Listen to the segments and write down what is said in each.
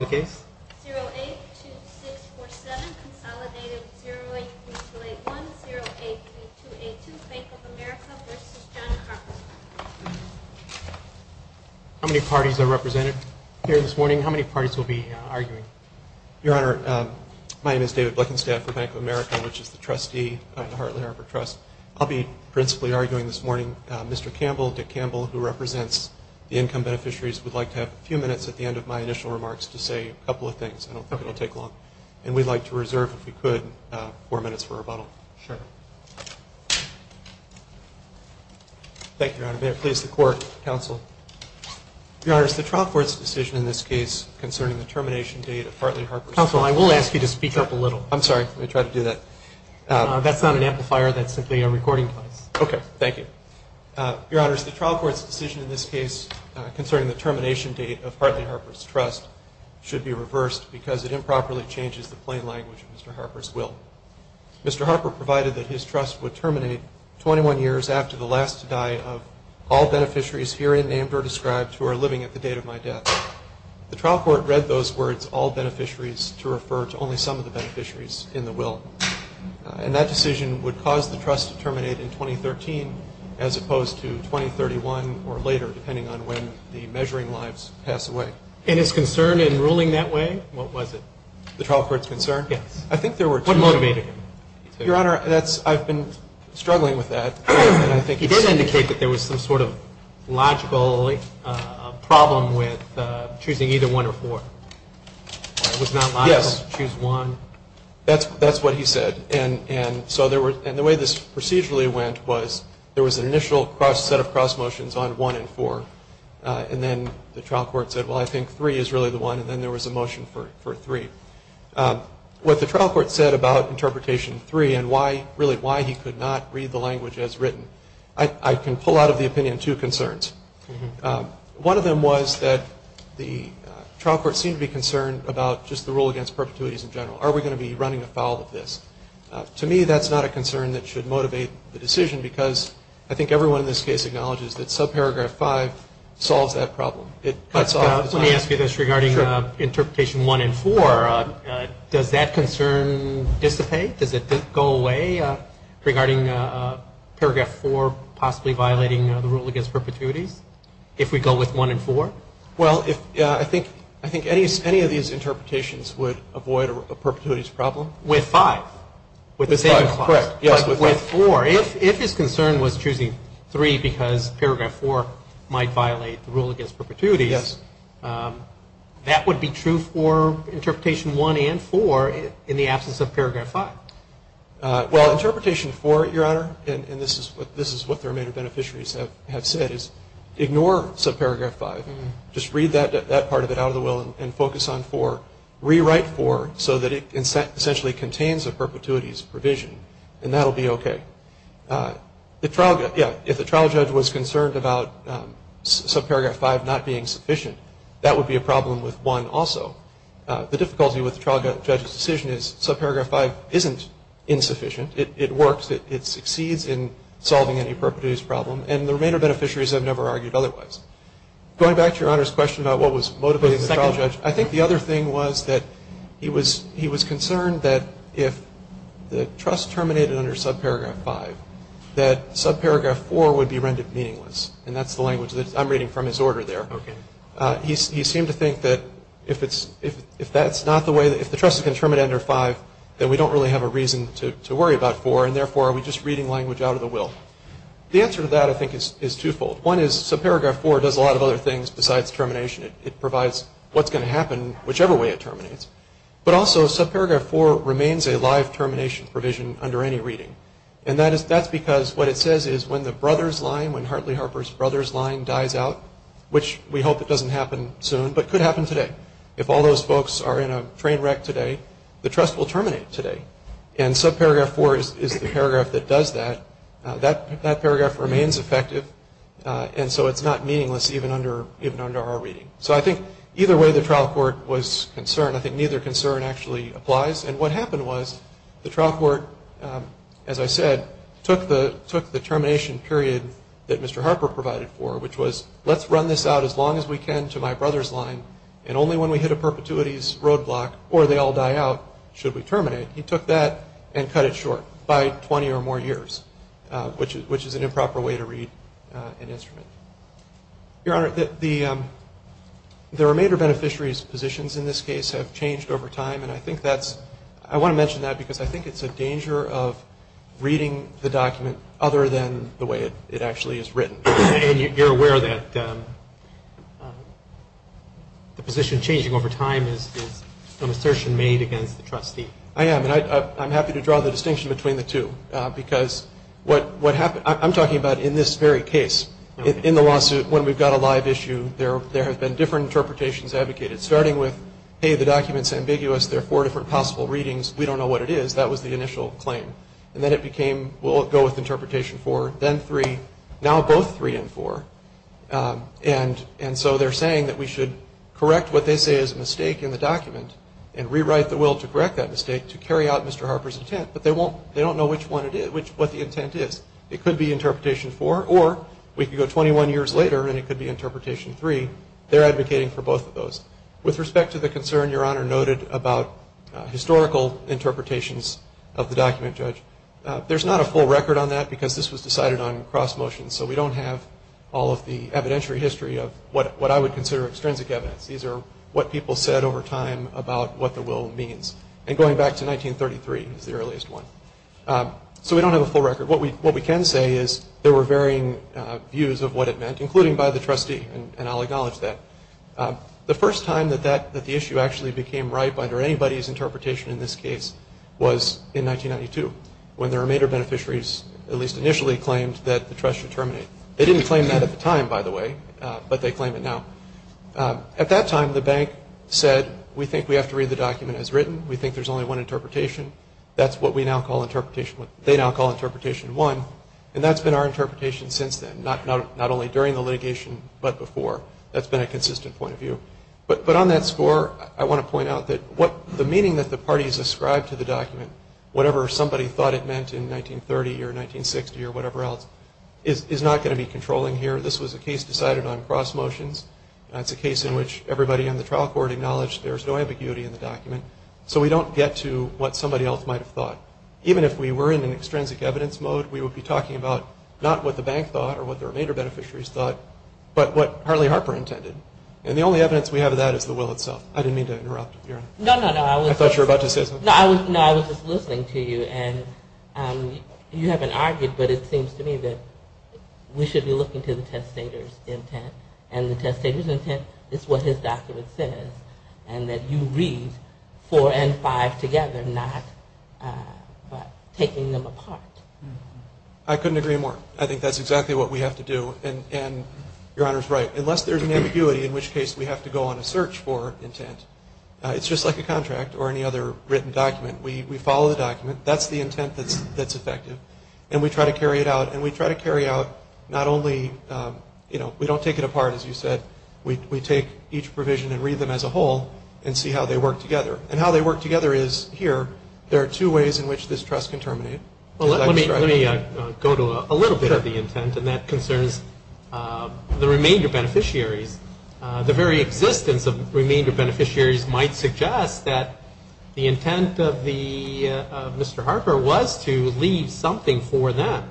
082647 Consolidated 083281 083282 Bank of America v. John Harper How many parties are represented here this morning? How many parties will be arguing? Your Honor, my name is David Bleckenstaff for Bank of America, which is the trustee at the Hartley Harper Trust. I'll be principally arguing this morning. Mr. Campbell, Dick Campbell, who represents the income beneficiaries, would like to have a few minutes at the end of my initial remarks to say a couple of things. I don't think it'll take long. And we'd like to reserve, if we could, four minutes for rebuttal. Thank you, Your Honor. May it please the Court, Counsel. Your Honor, it's the trial court's decision in this case concerning the termination date of Hartley Harper's trust. Counsel, I will ask you to speak up a little. I'm sorry. Let me try to do that. That's not an amplifier. That's simply a recording device. Okay. Thank you. Your Honor, it's the trial court's decision in this case concerning the termination date of Hartley Harper's trust should be reversed because it improperly changes the plain language of Mr. Harper's will. Mr. Harper provided that his trust would terminate 21 years after the last to die of all beneficiaries, herein named or described, who are living at the date of my death. The trial court read those words, all beneficiaries, to refer to only some of the beneficiaries in the will. And that decision would cause the trust to terminate in 2013 as opposed to 2031 or later, depending on when the measuring lives pass away. And his concern in ruling that way, what was it? The trial court's concern? Yes. I think there were two. What motivated him? Your Honor, I've been struggling with that. He did indicate that there was some sort of logical problem with choosing either one or four. It was not logical to choose one. That's what he said. And the way this procedurally went was there was an initial set of cross motions on one and four. And then the trial court said, well, I think three is really the one. And then there was a motion for three. What the trial court said about interpretation three and really why he could not read the language as written, I can pull out of the opinion two concerns. One of them was that the trial court seemed to be concerned about just the rule against perpetuities in general. Are we going to be running afoul of this? To me, that's not a concern that should motivate the decision because I think everyone in this case acknowledges that subparagraph five solves that problem. Let me ask you this regarding interpretation one and four. Does that concern dissipate? Does it go away regarding paragraph four possibly violating the rule against perpetuities if we go with one and four? Well, I think any of these interpretations would avoid a perpetuities problem. With five. With five, correct. With four. If his concern was choosing three because paragraph four might violate the rule against perpetuities, that would be true for interpretation one and four in the absence of paragraph five. Well, interpretation four, Your Honor, and this is what the remaining beneficiaries have said, is ignore subparagraph five. Just read that part of it out of the will and focus on four. Rewrite four so that it essentially contains a perpetuities provision, and that will be okay. Yeah, if the trial judge was concerned about subparagraph five not being sufficient, that would be a problem with one also. The difficulty with the trial judge's decision is subparagraph five isn't insufficient. It works. It succeeds in solving any perpetuities problem, and the remainder beneficiaries have never argued otherwise. Going back to Your Honor's question about what was motivating the trial judge, I think the other thing was that he was concerned that if the trust terminated under subparagraph five, that subparagraph four would be rendered meaningless, and that's the language that I'm reading from his order there. Okay. He seemed to think that if that's not the way, if the trust is going to terminate under five, then we don't really have a reason to worry about four, and, therefore, are we just reading language out of the will? The answer to that, I think, is twofold. One is subparagraph four does a lot of other things besides termination. It provides what's going to happen whichever way it terminates, but also subparagraph four remains a live termination provision under any reading, and that's because what it says is when the brothers line, when Hartley Harper's brothers line dies out, which we hope it doesn't happen soon but could happen today, if all those folks are in a train wreck today, the trust will terminate today, and subparagraph four is the paragraph that does that. That paragraph remains effective, and so it's not meaningless even under our reading. So I think either way the trial court was concerned, I think neither concern actually applies, and what happened was the trial court, as I said, took the termination period that Mr. Harper provided for, which was let's run this out as long as we can to my brother's line, and only when we hit a perpetuity's roadblock or they all die out should we terminate. He took that and cut it short by 20 or more years, which is an improper way to read an instrument. Your Honor, the remainder beneficiaries' positions in this case have changed over time, and I want to mention that because I think it's a danger of reading the document other than the way it actually is written. And you're aware that the position changing over time is an assertion made against the trustee? I am, and I'm happy to draw the distinction between the two, because what happened, I'm talking about in this very case, in the lawsuit when we've got a live issue, there have been different interpretations advocated, starting with, hey, the document's ambiguous, there are four different possible readings, we don't know what it is, that was the initial claim. And then it became we'll go with interpretation four, then three, now both three and four, and so they're saying that we should correct what they say is a mistake in the document and rewrite the will to correct that mistake to carry out Mr. Harper's intent, but they don't know which one it is, what the intent is. It could be interpretation four, or we could go 21 years later and it could be interpretation three. They're advocating for both of those. With respect to the concern Your Honor noted about historical interpretations of the document, Judge, there's not a full record on that because this was decided on cross-motion, so we don't have all of the evidentiary history of what I would consider extrinsic evidence. These are what people said over time about what the will means, and going back to 1933 is the earliest one. So we don't have a full record. What we can say is there were varying views of what it meant, including by the trustee, and I'll acknowledge that. The first time that the issue actually became ripe under anybody's interpretation in this case was in 1992, when the remainder of beneficiaries at least initially claimed that the trust should terminate. They didn't claim that at the time, by the way, but they claim it now. At that time, the bank said, we think we have to read the document as written. We think there's only one interpretation. That's what they now call interpretation one, and that's been our interpretation since then, not only during the litigation but before. That's been a consistent point of view. But on that score, I want to point out that the meaning that the parties ascribed to the document, whatever somebody thought it meant in 1930 or 1960 or whatever else, is not going to be controlling here. This was a case decided on cross motions. That's a case in which everybody on the trial court acknowledged there's no ambiguity in the document. So we don't get to what somebody else might have thought. Even if we were in an extrinsic evidence mode, we would be talking about not what the bank thought or what the remainder of beneficiaries thought, but what Harley Harper intended. And the only evidence we have of that is the will itself. I didn't mean to interrupt. I thought you were about to say something. No, I was just listening to you. And you haven't argued, but it seems to me that we should be looking to the testator's intent, and the testator's intent is what his document says, and that you read four and five together, not taking them apart. I couldn't agree more. I think that's exactly what we have to do. And Your Honor's right. Unless there's an ambiguity, in which case we have to go on a search for intent. It's just like a contract or any other written document. We follow the document. That's the intent that's effective. And we try to carry it out, and we try to carry out not only, you know, we don't take it apart, as you said. We take each provision and read them as a whole and see how they work together. And how they work together is, here, there are two ways in which this trust can terminate. Let me go to a little bit of the intent, and that concerns the remainder beneficiaries. The very existence of remainder beneficiaries might suggest that the intent of Mr. Harper was to leave something for them.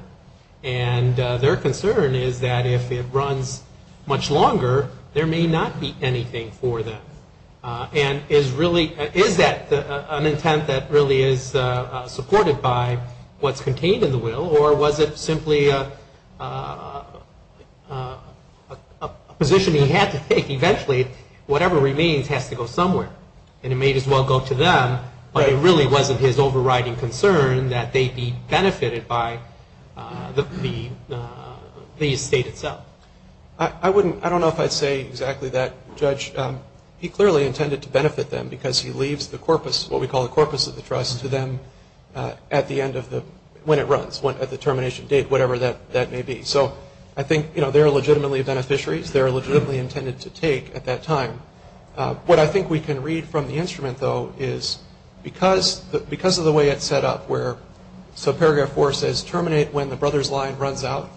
And their concern is that if it runs much longer, there may not be anything for them. And is that an intent that really is supported by what's contained in the will, or was it simply a position he had to take? Eventually, whatever remains has to go somewhere, and it may as well go to them. But it really wasn't his overriding concern that they be benefited by the estate itself. I don't know if I'd say exactly that, Judge. He clearly intended to benefit them because he leaves the corpus, what we call the corpus of the trust, to them when it runs, at the termination date, whatever that may be. So I think they are legitimately beneficiaries. They are legitimately intended to take at that time. What I think we can read from the instrument, though, is because of the way it's set up, where subparagraph 4 says terminate when the brother's line runs out,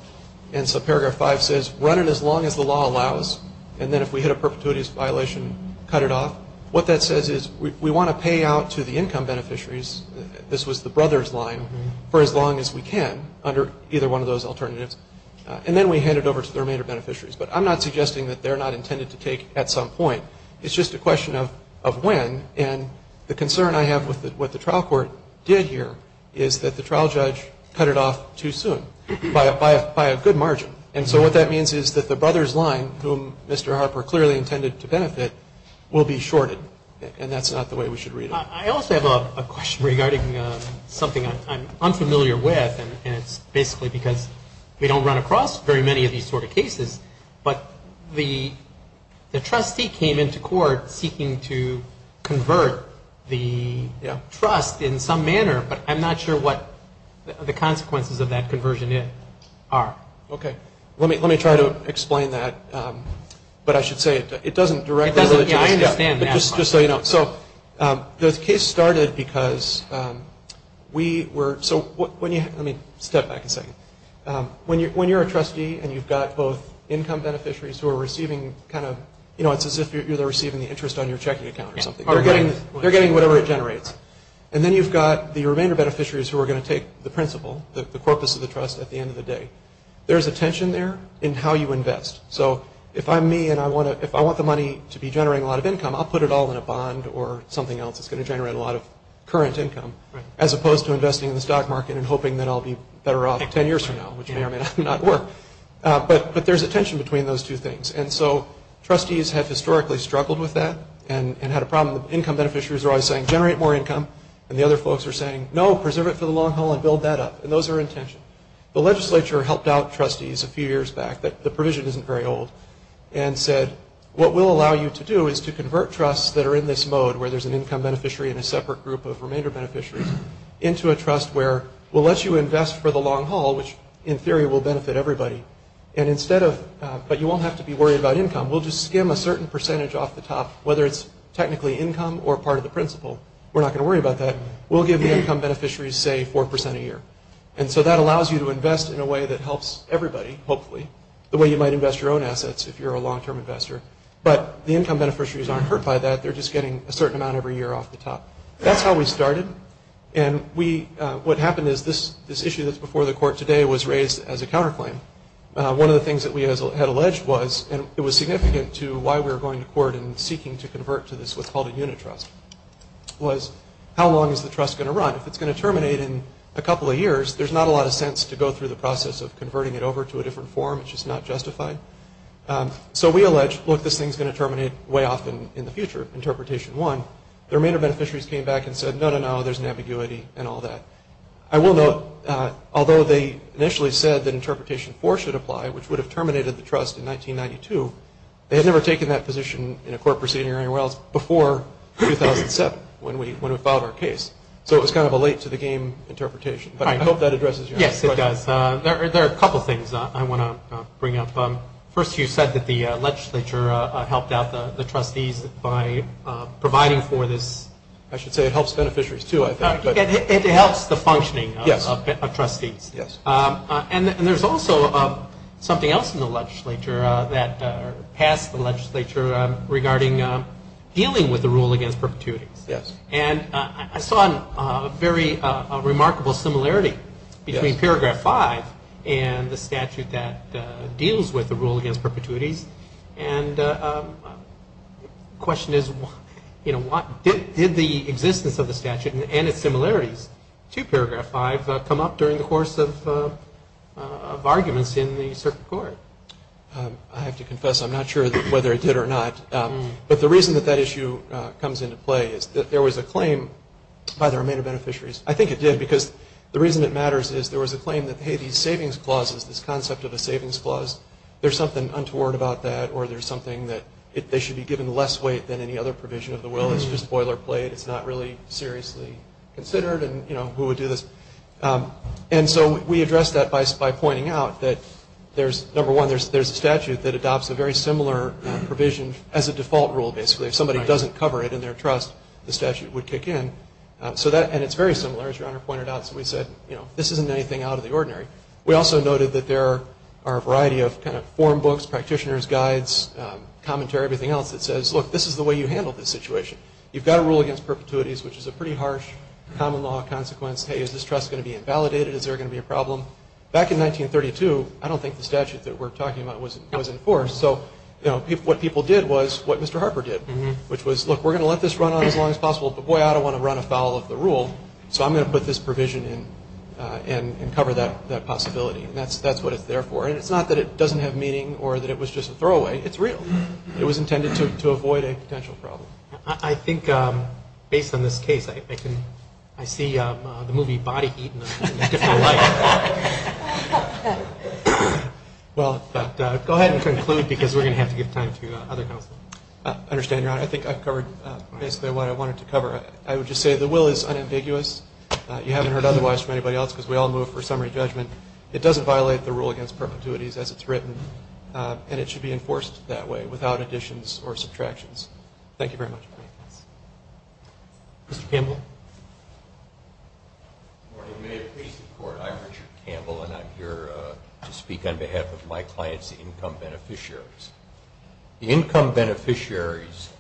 and subparagraph 5 says run it as long as the law allows. And then if we hit a perpetuity violation, cut it off. What that says is we want to pay out to the income beneficiaries, this was the brother's line, for as long as we can under either one of those alternatives. And then we hand it over to the remainder beneficiaries. But I'm not suggesting that they're not intended to take at some point. It's just a question of when. And the concern I have with what the trial court did here is that the trial judge cut it off too soon, by a good margin. And so what that means is that the brother's line, whom Mr. Harper clearly intended to benefit, will be shorted. And that's not the way we should read it. I also have a question regarding something I'm unfamiliar with, and it's basically because we don't run across very many of these sort of cases, but the trustee came into court seeking to convert the trust in some manner, but I'm not sure what the consequences of that conversion are. Okay. Let me try to explain that. But I should say it doesn't directly to the trustee. Yeah, I understand that. Just so you know. So the case started because we were, so when you, let me step back a second. When you're a trustee and you've got both income beneficiaries who are receiving kind of, you know, it's as if they're receiving the interest on your checking account or something. They're getting whatever it generates. And then you've got the remainder beneficiaries who are going to take the principal, the corpus of the trust at the end of the day. There's a tension there in how you invest. So if I'm me and I want the money to be generating a lot of income, I'll put it all in a bond or something else that's going to generate a lot of current income, as opposed to investing in the stock market and hoping that I'll be better off 10 years from now, which may or may not work. But there's a tension between those two things. And so trustees have historically struggled with that and had a problem. The income beneficiaries are always saying, generate more income, and the other folks are saying, no, preserve it for the long haul and build that up. And those are in tension. The legislature helped out trustees a few years back. The provision isn't very old. And said, what we'll allow you to do is to convert trusts that are in this mode, where there's an income beneficiary and a separate group of remainder beneficiaries, into a trust where we'll let you invest for the long haul, which in theory will benefit everybody. And instead of, but you won't have to be worried about income. We'll just skim a certain percentage off the top, whether it's technically income or part of the principal. We're not going to worry about that. We'll give the income beneficiaries, say, 4% a year. And so that allows you to invest in a way that helps everybody, hopefully, the way you might invest your own assets if you're a long-term investor. But the income beneficiaries aren't hurt by that. They're just getting a certain amount every year off the top. That's how we started. And what happened is this issue that's before the court today was raised as a counterclaim. One of the things that we had alleged was, and it was significant to why we were going to court and seeking to convert to this what's called a unit trust, was how long is the trust going to run? If it's going to terminate in a couple of years, there's not a lot of sense to go through the process of converting it over to a different form. It's just not justified. So we allege, look, this thing's going to terminate way off in the future, Interpretation 1. The remainder beneficiaries came back and said, no, no, no, there's an ambiguity and all that. I will note, although they initially said that Interpretation 4 should apply, which would have terminated the trust in 1992, they had never taken that position in a court proceeding or anywhere else before 2007 when we filed our case. So it was kind of a late-to-the-game interpretation. But I hope that addresses your question. Yes, it does. There are a couple of things I want to bring up. First, you said that the legislature helped out the trustees by providing for this. I should say it helps beneficiaries, too, I think. It helps the functioning of trustees. Yes. And there's also something else in the legislature that passed the legislature regarding dealing with the rule against perpetuities. Yes. And I saw a very remarkable similarity between Paragraph 5 and the statute that deals with the rule against perpetuities. And the question is, did the existence of the statute and its similarities to Paragraph 5 come up during the course of arguments in the circuit court? I have to confess I'm not sure whether it did or not. But the reason that that issue comes into play is that there was a claim by the remainder beneficiaries. I think it did because the reason it matters is there was a claim that, hey, these savings clauses, this concept of a savings clause, there's something untoward about that or there's something that they should be given less weight than any other provision of the will. It's just boilerplate. It's not really seriously considered. And, you know, who would do this? And so we addressed that by pointing out that, number one, there's a statute that adopts a very similar provision as a default rule, basically. Right. If somebody doesn't cover it in their trust, the statute would kick in. And it's very similar, as Your Honor pointed out. So we said, you know, this isn't anything out of the ordinary. We also noted that there are a variety of kind of form books, practitioners' guides, commentary, everything else that says, look, this is the way you handle this situation. You've got a rule against perpetuities, which is a pretty harsh common law consequence. Hey, is this trust going to be invalidated? Is there going to be a problem? Back in 1932, I don't think the statute that we're talking about was enforced. So, you know, what people did was what Mr. Harper did, which was, look, we're going to let this run on as long as possible, but, boy, I don't want to run afoul of the rule, so I'm going to put this provision in and cover that possibility. And that's what it's there for. And it's not that it doesn't have meaning or that it was just a throwaway. It's real. It was intended to avoid a potential problem. I think, based on this case, I see the movie Body Heat in a different light. Well, go ahead and conclude because we're going to have to give time to other counsel. I understand, Your Honor. I think I've covered basically what I wanted to cover. I would just say the will is unambiguous. You haven't heard otherwise from anybody else because we all move for summary judgment. It doesn't violate the rule against perpetuities as it's written, and it should be enforced that way without additions or subtractions. Thank you very much for your patience. Mr. Campbell? Good morning. May it please the Court, I'm Richard Campbell, and I'm here to speak on behalf of my clients, the income beneficiaries. The income beneficiaries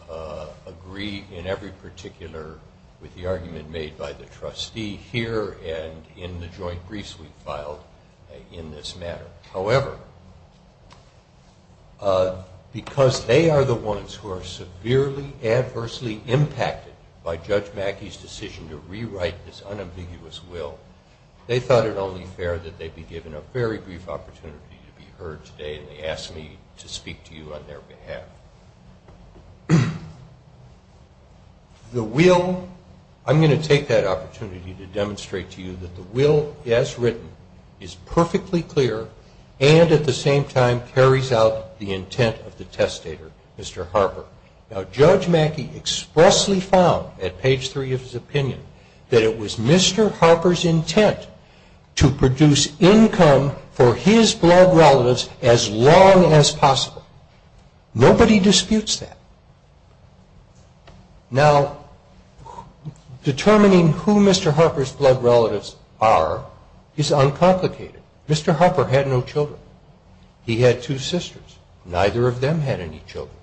agree in every particular with the argument made by the trustee here and in the joint briefs we filed in this matter. However, because they are the ones who are severely adversely impacted by Judge Mackey's decision to rewrite this unambiguous will, they thought it only fair that they be given a very brief opportunity to be heard today, and they asked me to speak to you on their behalf. The will, I'm going to take that opportunity to demonstrate to you that the will, as written, is perfectly clear and at the same time carries out the intent of the testator, Mr. Harper. Now, Judge Mackey expressly found at page 3 of his opinion that it was Mr. Harper's intent to produce income for his blood relatives as long as possible. Nobody disputes that. Now, determining who Mr. Harper's blood relatives are is uncomplicated. Mr. Harper had no children. He had two sisters. Neither of them had any children.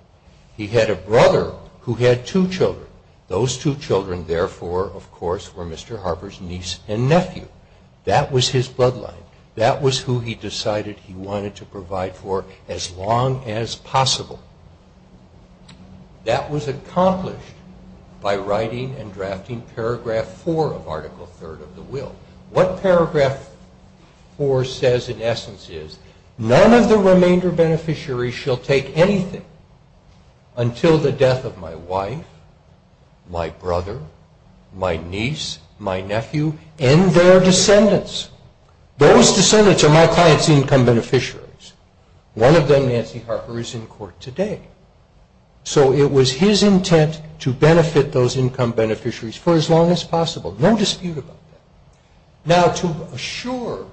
He had a brother who had two children. Those two children, therefore, of course, were Mr. Harper's niece and nephew. That was his bloodline. That was who he decided he wanted to provide for as long as possible. That was accomplished by writing and drafting paragraph 4 of Article 3rd of the will. What paragraph 4 says in essence is, none of the remainder beneficiaries shall take anything until the death of my wife, my brother, my niece, my nephew, and their descendants. Those descendants are my client's income beneficiaries. One of them, Nancy Harper, is in court today. So it was his intent to benefit those income beneficiaries for as long as possible. No dispute about that. Now, to assure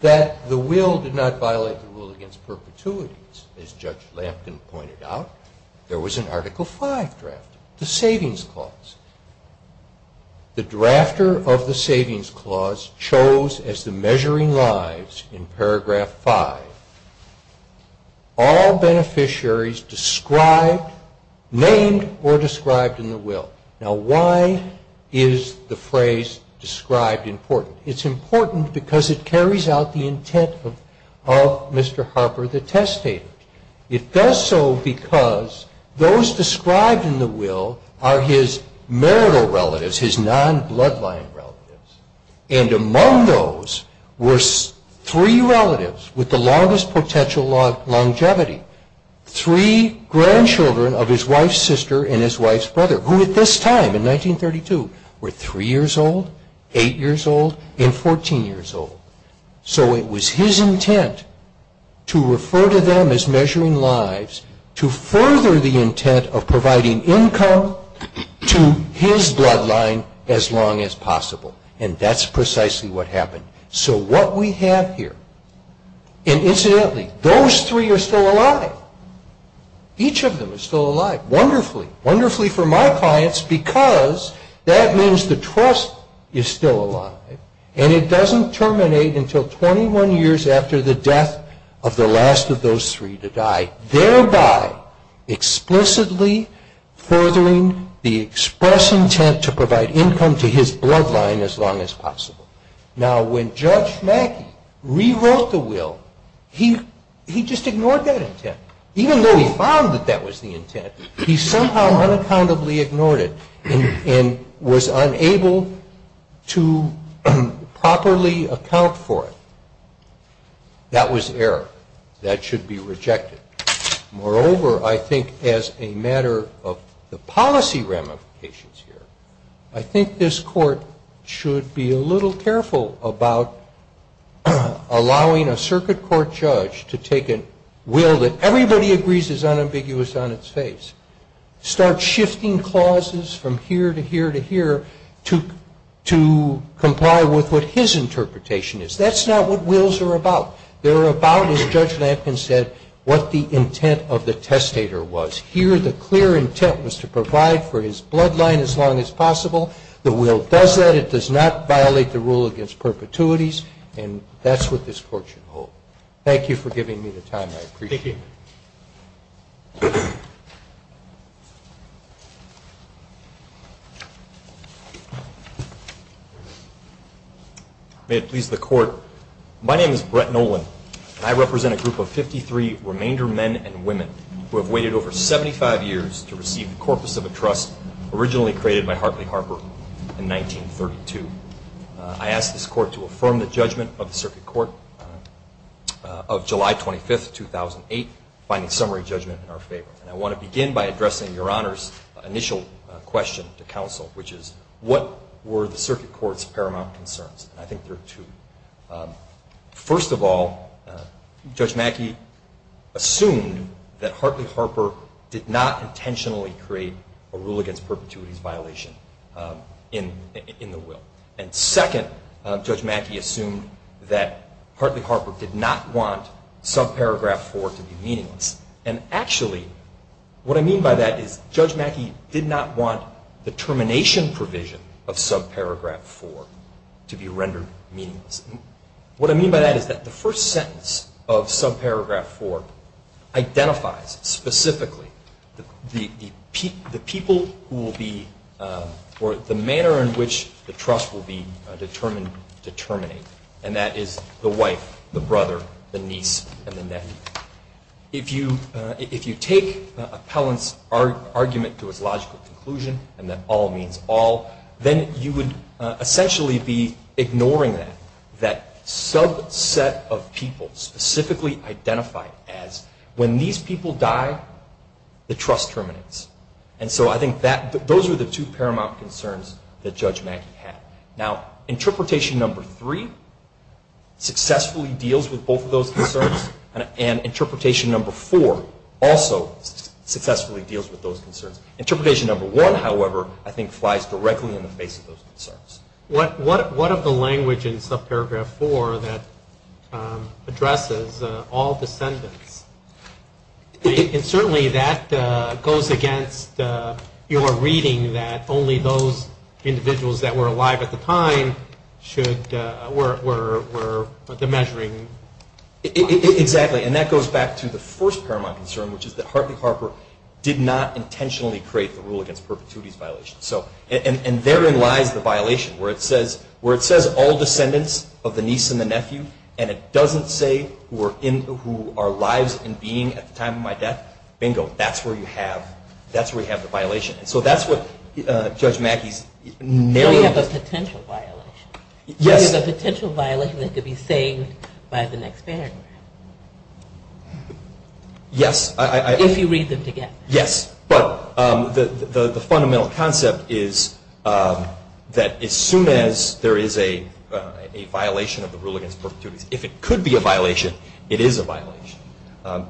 that the will did not violate the rule against perpetuities, as Judge Lampkin pointed out, there was an Article 5 draft, the Savings Clause. The drafter of the Savings Clause chose as the measuring lives in paragraph 5 all beneficiaries described, named, or described in the will. Now, why is the phrase described important? It's important because it carries out the intent of Mr. Harper, the testator. It does so because those described in the will are his marital relatives, his non-bloodline relatives. And among those were three relatives with the longest potential longevity, three grandchildren of his wife's sister and his wife's brother, who at this time, in 1932, were 3 years old, 8 years old, and 14 years old. So it was his intent to refer to them as measuring lives to further the intent of providing income to his bloodline as long as possible. And that's precisely what happened. So what we have here, and incidentally, those three are still alive. Each of them is still alive. Wonderfully. Wonderfully for my clients because that means the trust is still alive and it doesn't terminate until 21 years after the death of the last of those three to die, thereby explicitly furthering the express intent to provide income to his bloodline as long as possible. Now, when Judge Mackey rewrote the will, he just ignored that intent. Even though he found that that was the intent, he somehow unaccountably ignored it and was unable to properly account for it. That was error. That should be rejected. Moreover, I think as a matter of the policy ramifications here, I think this Court should be a little careful about allowing a circuit court judge to take a will that everybody agrees is unambiguous on its face, start shifting clauses from here to here to here to comply with what his interpretation is. That's not what wills are about. They're about, as Judge Lampkin said, what the intent of the testator was. Here the clear intent was to provide for his bloodline as long as possible. The will does that. It does not violate the rule against perpetuities. And that's what this Court should hold. Thank you for giving me the time. I appreciate it. Thank you. May it please the Court, my name is Brett Nolan, and I represent a group of 53 remainder men and women who have waited over 75 years to receive the corpus of a trust originally created by Hartley Harper in 1932. I ask this Court to affirm the judgment of the circuit court of July 25, 2008, finding summary judgment in our favor. And I want to begin by addressing Your Honor's initial question to counsel, which is what were the circuit court's paramount concerns? And I think there are two. First of all, Judge Mackey assumed that Hartley Harper did not intentionally create a rule against perpetuities violation in the will. And second, Judge Mackey assumed that Hartley Harper did not want subparagraph 4 to be meaningless. And actually, what I mean by that is Judge Mackey did not want the termination provision of subparagraph 4 to be rendered meaningless. What I mean by that is that the first sentence of subparagraph 4 identifies specifically the people who will be, or the manner in which the trust will be determined, and that is the wife, the brother, the niece, and the nephew. If you take Appellant's argument to its logical conclusion, and that all means all, then you would essentially be ignoring that. That subset of people specifically identified as when these people die, the trust terminates. And so I think those are the two paramount concerns that Judge Mackey had. Now, interpretation number 3 successfully deals with both of those concerns, and interpretation number 4 also successfully deals with those concerns. Interpretation number 1, however, I think flies directly in the face of those concerns. What of the language in subparagraph 4 that addresses all descendants? And certainly that goes against your reading that only those individuals that were alive at the time were the measuring bodies. Exactly. And that goes back to the first paramount concern, which is that Hartley Harper did not intentionally create the rule against perpetuities violations. And therein lies the violation, where it says all descendants of the niece and the nephew, and it doesn't say who are lives and being at the time of my death. Bingo, that's where you have the violation. So that's what Judge Mackey's narrative is. You have a potential violation. Yes. You have a potential violation that could be saved by the next paramount. Yes. If you read them together. Yes. But the fundamental concept is that as soon as there is a violation of the rule against perpetuities, if it could be a violation, it is a violation. And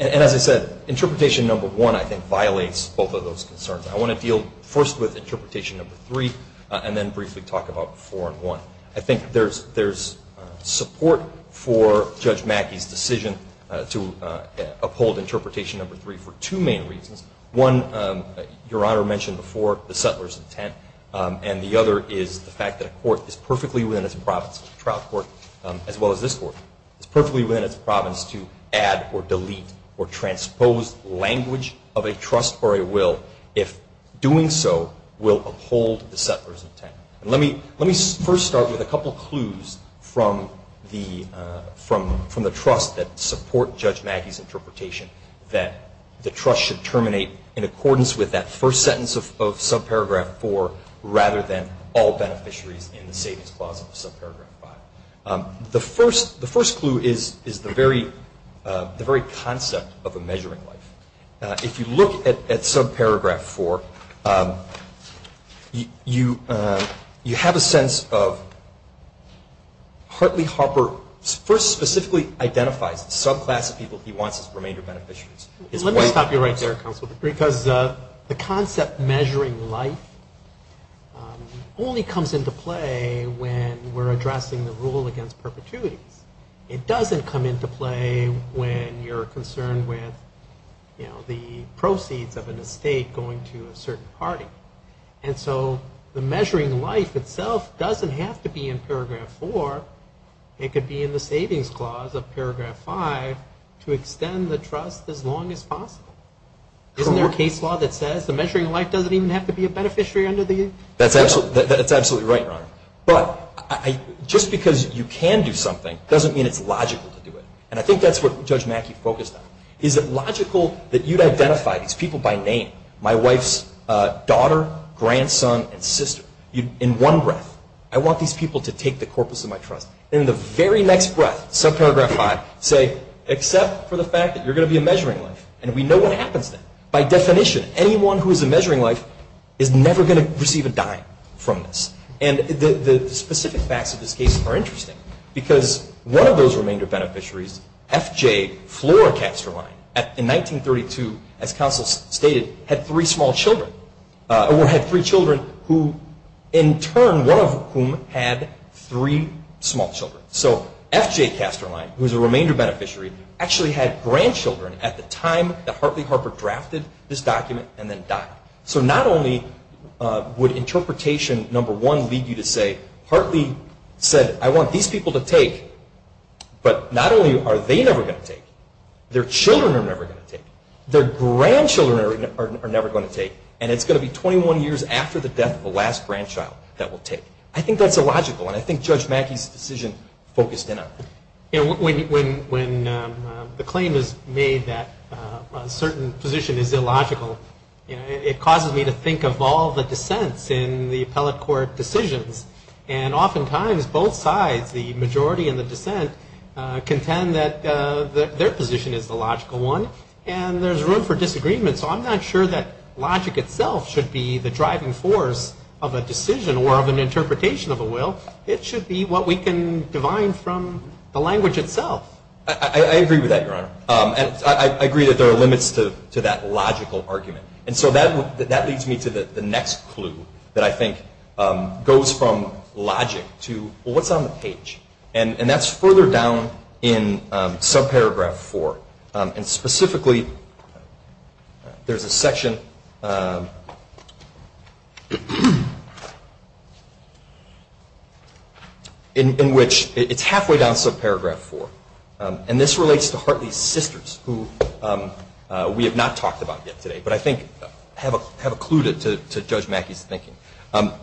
as I said, interpretation number 1, I think, violates both of those concerns. I want to deal first with interpretation number 3 and then briefly talk about 4 and 1. I think there's support for Judge Mackey's decision to uphold interpretation number 3 for two main reasons. One, Your Honor mentioned before, the settler's intent. And the other is the fact that a court is perfectly within its province, a trial court as well as this court, is perfectly within its province to add or delete or transpose language of a trust or a will, if doing so will uphold the settler's intent. Let me first start with a couple of clues from the trust that support Judge Mackey's interpretation, that the trust should terminate in accordance with that first sentence of subparagraph 4 rather than all beneficiaries in the savings clause of subparagraph 5. The first clue is the very concept of a measuring life. If you look at subparagraph 4, you have a sense of Hartley Harper first specifically identifies the subclass of people he wants as remainder beneficiaries. Let me stop you right there, counsel, because the concept measuring life only comes into play when we're addressing the rule against perpetuities. It doesn't come into play when you're concerned with, you know, the proceeds of an estate going to a certain party. And so the measuring life itself doesn't have to be in paragraph 4. It could be in the savings clause of paragraph 5 to extend the trust as long as possible. Isn't there a case law that says the measuring life doesn't even have to be a beneficiary under the? That's absolutely right, Your Honor. But just because you can do something doesn't mean it's logical to do it. And I think that's what Judge Mackey focused on. Is it logical that you'd identify these people by name, my wife's daughter, grandson, and sister, in one breath? I want these people to take the corpus of my trust. In the very next breath, subparagraph 5, say, except for the fact that you're going to be a measuring life. And we know what happens then. By definition, anyone who is a measuring life is never going to receive a dime from this. And the specific facts of this case are interesting. Because one of those remainder beneficiaries, F.J. Floracasterline, in 1932, as counsel stated, had three small children, or had three children who, in turn, one of whom had three small children. So F.J. Casterline, who is a remainder beneficiary, actually had grandchildren at the time that Hartley Harper drafted this document and then died. So not only would interpretation number one lead you to say, Hartley said, I want these people to take. But not only are they never going to take, their children are never going to take. Their grandchildren are never going to take. And it's going to be 21 years after the death of the last grandchild that will take. I think that's illogical. And I think Judge Mackey's decision focused in on that. When the claim is made that a certain position is illogical, it causes me to think of all the dissents in the appellate court decisions. And oftentimes, both sides, the majority and the dissent, contend that their position is the logical one. And there's room for disagreement. So I'm not sure that logic itself should be the driving force of a decision or of an interpretation of a will. It should be what we can divine from the language itself. I agree with that, Your Honor. I agree that there are limits to that logical argument. And so that leads me to the next clue that I think goes from logic to what's on the page. And that's further down in subparagraph four. And specifically, there's a section in which it's halfway down subparagraph four. And this relates to Hartley's sisters, who we have not talked about yet today, but I think have a clue to Judge Mackey's thinking.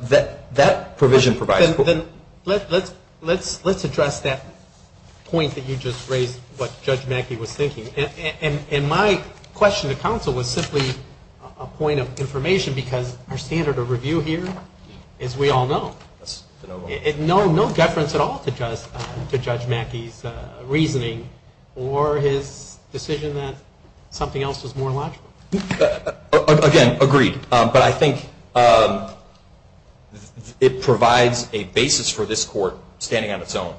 That provision provides for- Let's address that point that you just raised, what Judge Mackey was thinking. And my question to counsel was simply a point of information because our standard of review here, as we all know, no deference at all to Judge Mackey's reasoning or his decision that something else was more logical. Again, agreed. But I think it provides a basis for this Court, standing on its own,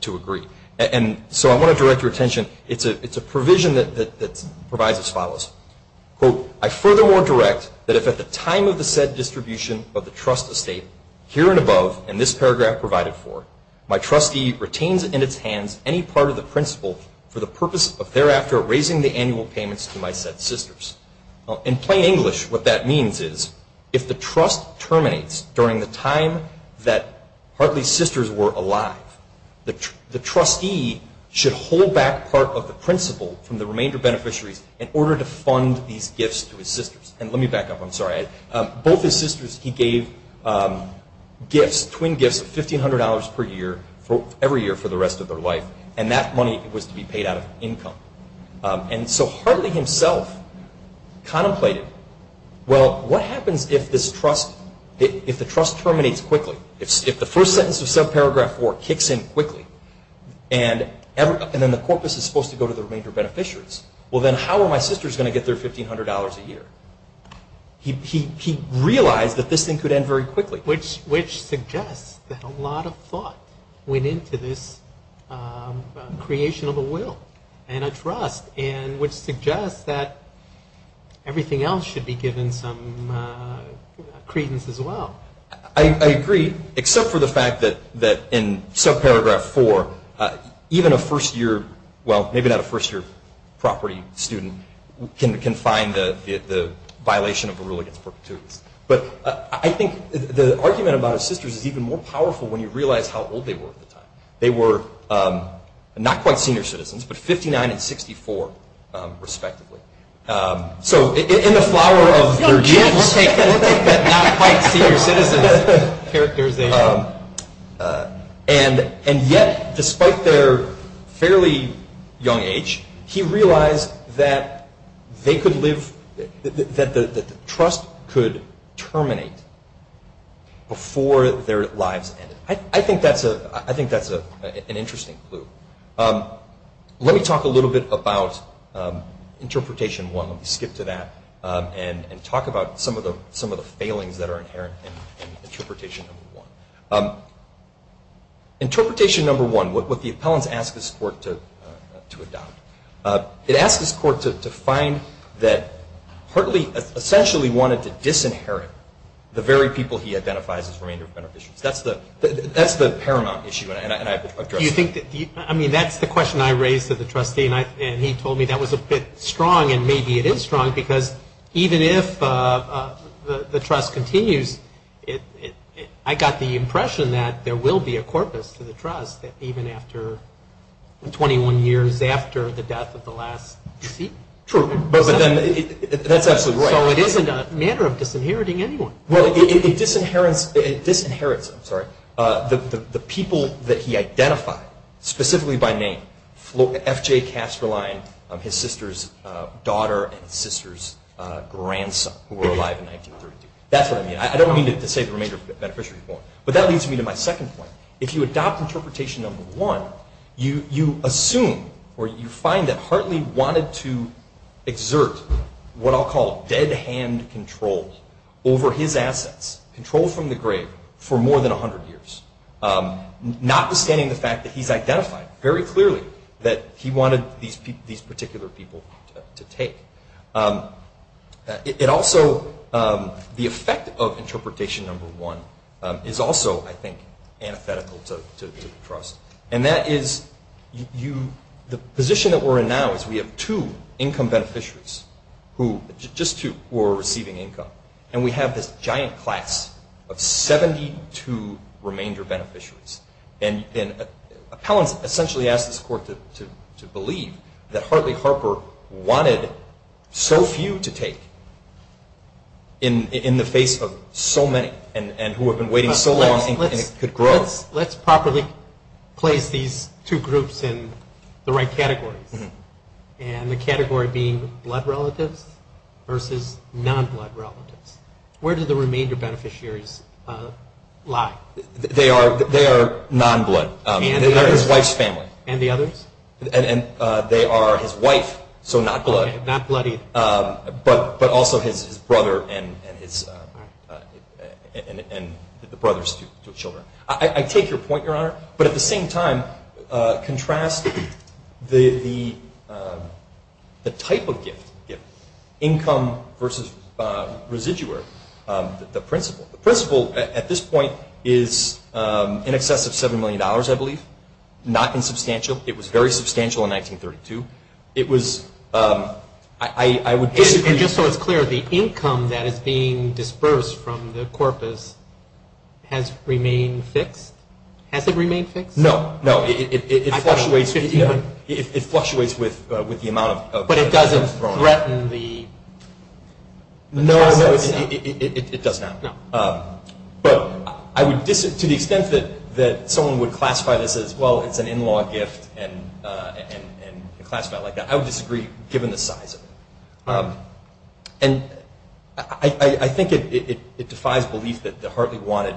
to agree. And so I want to direct your attention. It's a provision that provides as follows. Quote, I furthermore direct that if at the time of the said distribution of the trust estate, here and above, and this paragraph provided for, my trustee retains in its hands any part of the principle for the purpose of thereafter raising the annual payments to my said sisters. In plain English, what that means is if the trust terminates during the time that Hartley's sisters were alive, the trustee should hold back part of the principle from the remainder beneficiaries in order to fund these gifts to his sisters. And let me back up. I'm sorry. Both his sisters, he gave gifts, twin gifts of $1,500 per year, every year for the rest of their life. And that money was to be paid out of income. And so Hartley himself contemplated, well, what happens if this trust, if the trust terminates quickly, if the first sentence of subparagraph 4 kicks in quickly and then the corpus is supposed to go to the remainder beneficiaries? Well, then how are my sisters going to get their $1,500 a year? He realized that this thing could end very quickly. Which suggests that a lot of thought went into this creation of a will and a trust, and which suggests that everything else should be given some credence as well. I agree, except for the fact that in subparagraph 4, even a first-year, well, maybe not a first-year property student, can find the violation of a rule against perpetuities. But I think the argument about his sisters is even more powerful when you realize how old they were at the time. They were not quite senior citizens, but 59 and 64, respectively. So in the flower of their genes, they were not quite senior citizens. And yet, despite their fairly young age, he realized that they could live, that the trust could terminate before their lives ended. I think that's an interesting clue. Let me talk a little bit about Interpretation 1. Let me skip to that and talk about some of the failings that are inherent in Interpretation 1. Interpretation 1, what the appellants ask this court to adopt, it asks this court to find that Hartley essentially wanted to disinherit the very people he identifies as remainder of beneficiaries. That's the paramount issue, and I've addressed it. I mean, that's the question I raised to the trustee, and he told me that was a bit strong, and maybe it is strong because even if the trust continues, I got the impression that there will be a corpus to the trust even after 21 years after the death of the last deceased. True. That's absolutely right. So it isn't a matter of disinheriting anyone. Well, it disinherits the people that he identified, specifically by name, F.J. Kasterlein, his sister's daughter and sister's grandson, who were alive in 1932. That's what I mean. I don't mean to say the remainder of beneficiaries, but that leads me to my second point. If you adopt Interpretation 1, you assume or you find that Hartley wanted to exert what I'll call dead hand control over his assets, control from the grave, for more than 100 years, notwithstanding the fact that he's identified very clearly that he wanted these particular people to take. It also, the effect of Interpretation 1 is also, I think, antithetical to the trust, and that is the position that we're in now is we have two income beneficiaries who, just two, who are receiving income, and we have this giant class of 72 remainder beneficiaries. And Appellants essentially asked this court to believe that Hartley Harper wanted so few to take in the face of so many and who have been waiting so long and could grow. So let's properly place these two groups in the right categories. And the category being blood relatives versus non-blood relatives. Where do the remainder beneficiaries lie? They are non-blood. And the others? They are his wife's family. And the others? And they are his wife, so not blood. Okay, not blood either. But also his brother and the brother's two children. I take your point, Your Honor. But at the same time, contrast the type of gift, income versus residuary, the principle. The principle, at this point, is in excess of $7 million, I believe. Not insubstantial. It was very substantial in 1932. It was, I would disagree. And just so it's clear, the income that is being dispersed from the corpus has remained fixed? Has it remained fixed? No, no. It fluctuates with the amount of. But it doesn't threaten the. No, it does not. But to the extent that someone would classify this as, well, it's an in-law gift and classify it like that, I would disagree, given the size of it. And I think it defies belief that Hartley wanted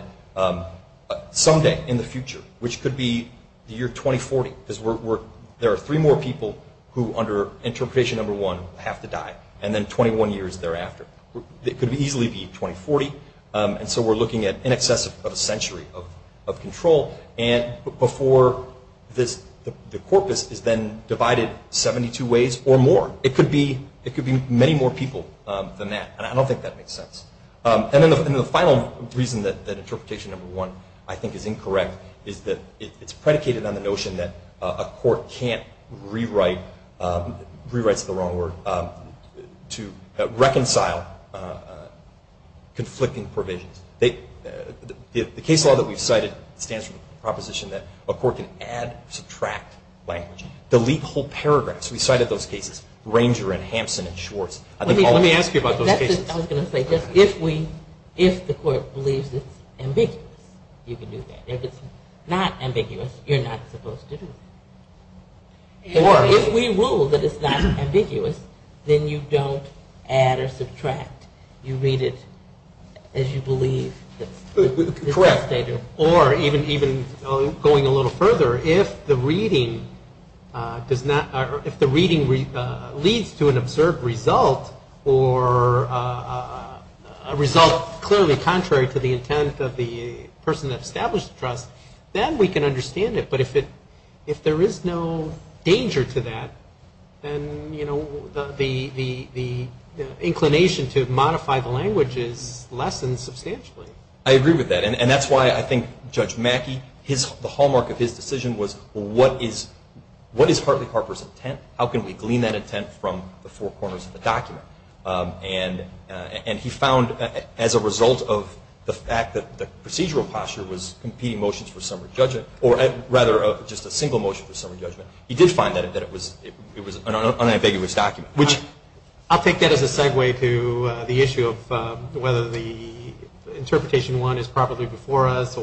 someday in the future, which could be the year 2040, because there are three more people who, under interpretation number one, have to die, and then 21 years thereafter. It could easily be 2040. And so we're looking at in excess of a century of control, and before the corpus is then divided 72 ways or more. It could be many more people than that. And I don't think that makes sense. And then the final reason that interpretation number one, I think, is incorrect is that it's predicated on the notion that a court can't rewrite, rewrites the wrong word, to reconcile conflicting provisions. The case law that we've cited stands for the proposition that a court can add, subtract language, delete whole paragraphs. We cited those cases, Ranger and Hampson and Schwartz. Let me ask you about those cases. I was going to say, if the court believes it's ambiguous, you can do that. If it's not ambiguous, you're not supposed to do it. Or if we rule that it's not ambiguous, then you don't add or subtract. You read it as you believe. Correct. Or even going a little further, if the reading leads to an observed result, or a result clearly contrary to the intent of the person that established the trust, then we can understand it. But if there is no danger to that, then the inclination to modify the language is lessened substantially. I agree with that. And that's why I think Judge Mackey, the hallmark of his decision was, what is Hartley Harper's intent? How can we glean that intent from the four corners of the document? And he found, as a result of the fact that the procedural posture was competing motions for summary judgment, or rather just a single motion for summary judgment, he did find that it was an unambiguous document. I'll take that as a segue to the issue of whether the interpretation one is properly before us,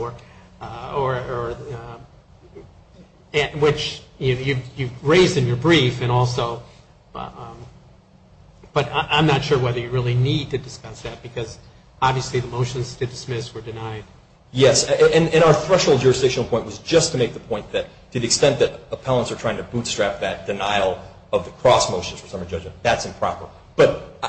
which you've raised in your brief. But I'm not sure whether you really need to discuss that, because obviously the motions to dismiss were denied. Yes. And our threshold jurisdictional point was just to make the point that to the extent that appellants are trying to bootstrap that denial of the cross motions for summary judgment, that's improper. But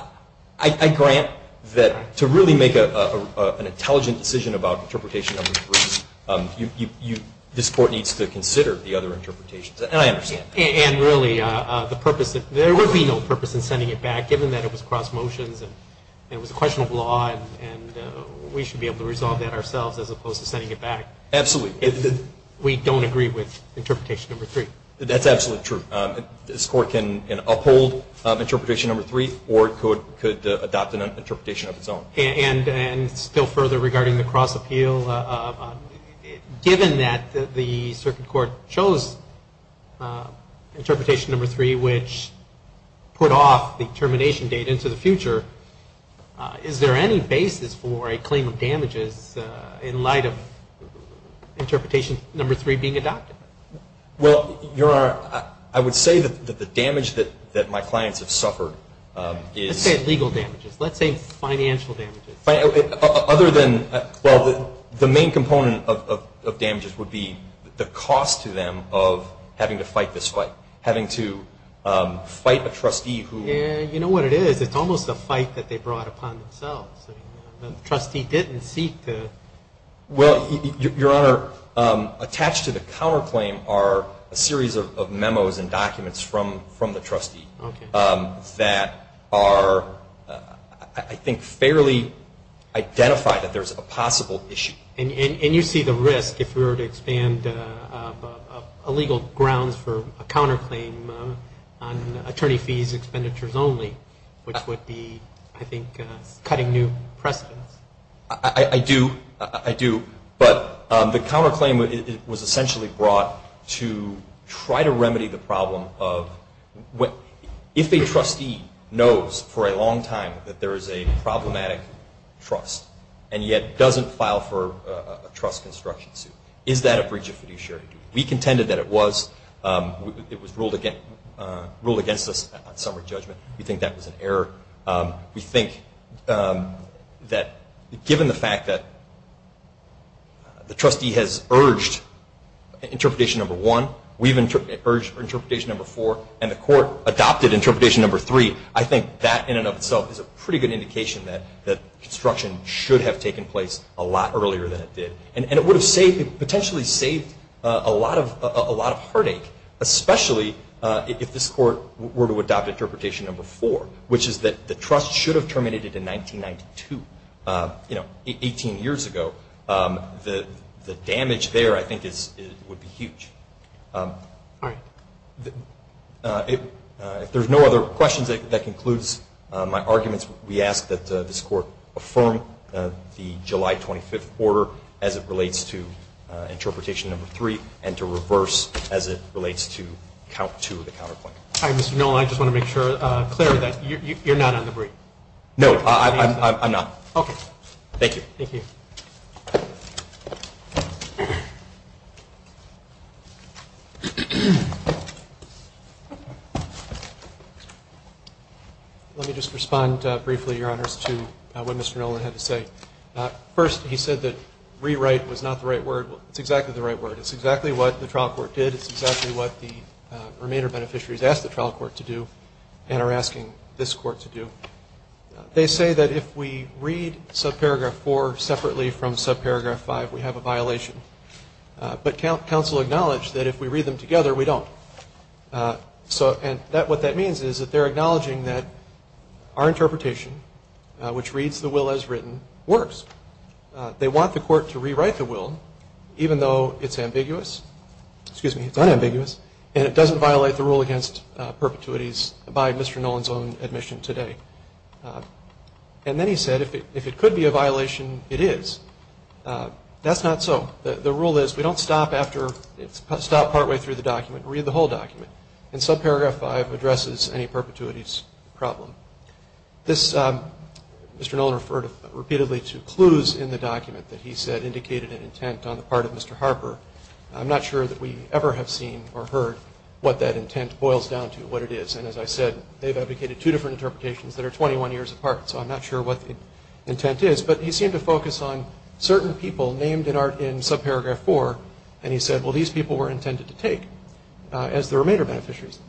I grant that to really make an intelligent decision about interpretation number three, this Court needs to consider the other interpretations. And I understand that. And really, there would be no purpose in sending it back, given that it was cross motions and it was a question of law and we should be able to resolve that ourselves as opposed to sending it back. Absolutely. We don't agree with interpretation number three. That's absolutely true. This Court can uphold interpretation number three or it could adopt an interpretation of its own. And still further regarding the cross appeal, given that the circuit court chose interpretation number three, which put off the termination date into the future, is there any basis for a claim of damages in light of interpretation number three being adopted? Well, Your Honor, I would say that the damage that my clients have suffered is – Let's say legal damages. Let's say financial damages. Other than – well, the main component of damages would be the cost to them of having to fight this fight, having to fight a trustee who – Yeah, you know what it is. It's almost a fight that they brought upon themselves. The trustee didn't seek to – Well, Your Honor, attached to the counterclaim are a series of memos and documents from the trustee that are, I think, fairly identified that there's a possible issue. And you see the risk if we were to expand illegal grounds for a counterclaim on attorney fees expenditures only, which would be, I think, cutting new precedence. I do. I do. But the counterclaim was essentially brought to try to remedy the problem of – if a trustee knows for a long time that there is a problematic trust and yet doesn't file for a trust construction suit, is that a breach of fiduciary duty? We contended that it was. It was ruled against us on summary judgment. We think that was an error. We think that given the fact that the trustee has urged Interpretation No. 1, we've urged Interpretation No. 4, and the court adopted Interpretation No. 3, I think that in and of itself is a pretty good indication that construction should have taken place a lot earlier than it did. And it would have potentially saved a lot of heartache, especially if this court were to adopt Interpretation No. 4, which is that the trust should have terminated it in 1992, you know, 18 years ago. The damage there, I think, would be huge. All right. If there's no other questions, that concludes my arguments. We ask that this court affirm the July 25th order as it relates to Interpretation No. 3 and to reverse as it relates to Count 2 of the counterpoint. All right, Mr. Nolan, I just want to make sure, Claire, that you're not on the brief. No, I'm not. Okay. Thank you. Thank you. Let me just respond briefly, Your Honors, to what Mr. Nolan had to say. First, he said that rewrite was not the right word. It's exactly the right word. It's exactly what the trial court did. It's exactly what the remainder beneficiaries asked the trial court to do and are asking this court to do. They say that if we read subparagraph 4 separately from subparagraph 5, we have a violation. But counsel acknowledged that if we read them together, we don't. And what that means is that they're acknowledging that our interpretation, which reads the will as written, works. They want the court to rewrite the will even though it's ambiguous. Excuse me, it's unambiguous. And it doesn't violate the rule against perpetuities by Mr. Nolan's own admission today. And then he said if it could be a violation, it is. That's not so. The rule is we don't stop after it's stopped partway through the document. Read the whole document. And subparagraph 5 addresses any perpetuities problem. Mr. Nolan referred repeatedly to clues in the document that he said indicated an intent on the part of Mr. Harper. I'm not sure that we ever have seen or heard what that intent boils down to, what it is. And as I said, they've advocated two different interpretations that are 21 years apart. So I'm not sure what the intent is. But he seemed to focus on certain people named in subparagraph 4. And he said, well, these people were intended to take as the remainder beneficiaries.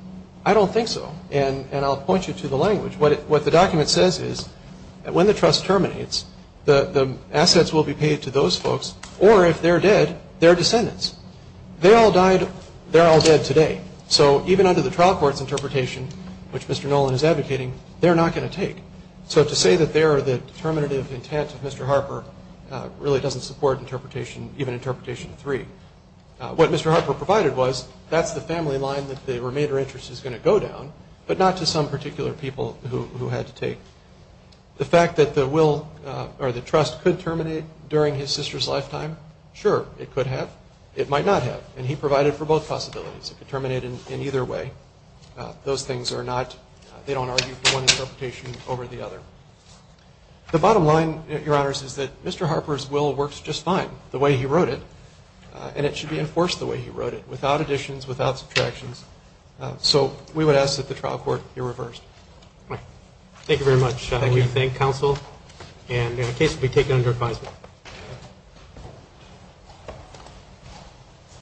I don't think so. And I'll point you to the language. What the document says is when the trust terminates, the assets will be paid to those folks. Or if they're dead, their descendants. They all died. They're all dead today. So even under the trial court's interpretation, which Mr. Nolan is advocating, they're not going to take. So to say that they are the determinative intent of Mr. Harper really doesn't support interpretation, even interpretation 3. What Mr. Harper provided was that's the family line that the remainder interest is going to go down, but not to some particular people who had to take. The fact that the will or the trust could terminate during his sister's lifetime, sure, it could have. It might not have. And he provided for both possibilities. It could terminate in either way. Those things are not, they don't argue for one interpretation over the other. The bottom line, Your Honors, is that Mr. Harper's will works just fine. The way he wrote it, and it should be enforced the way he wrote it, without additions, without subtractions. So we would ask that the trial court be reversed. Thank you very much. We thank counsel. And the case will be taken under advisement.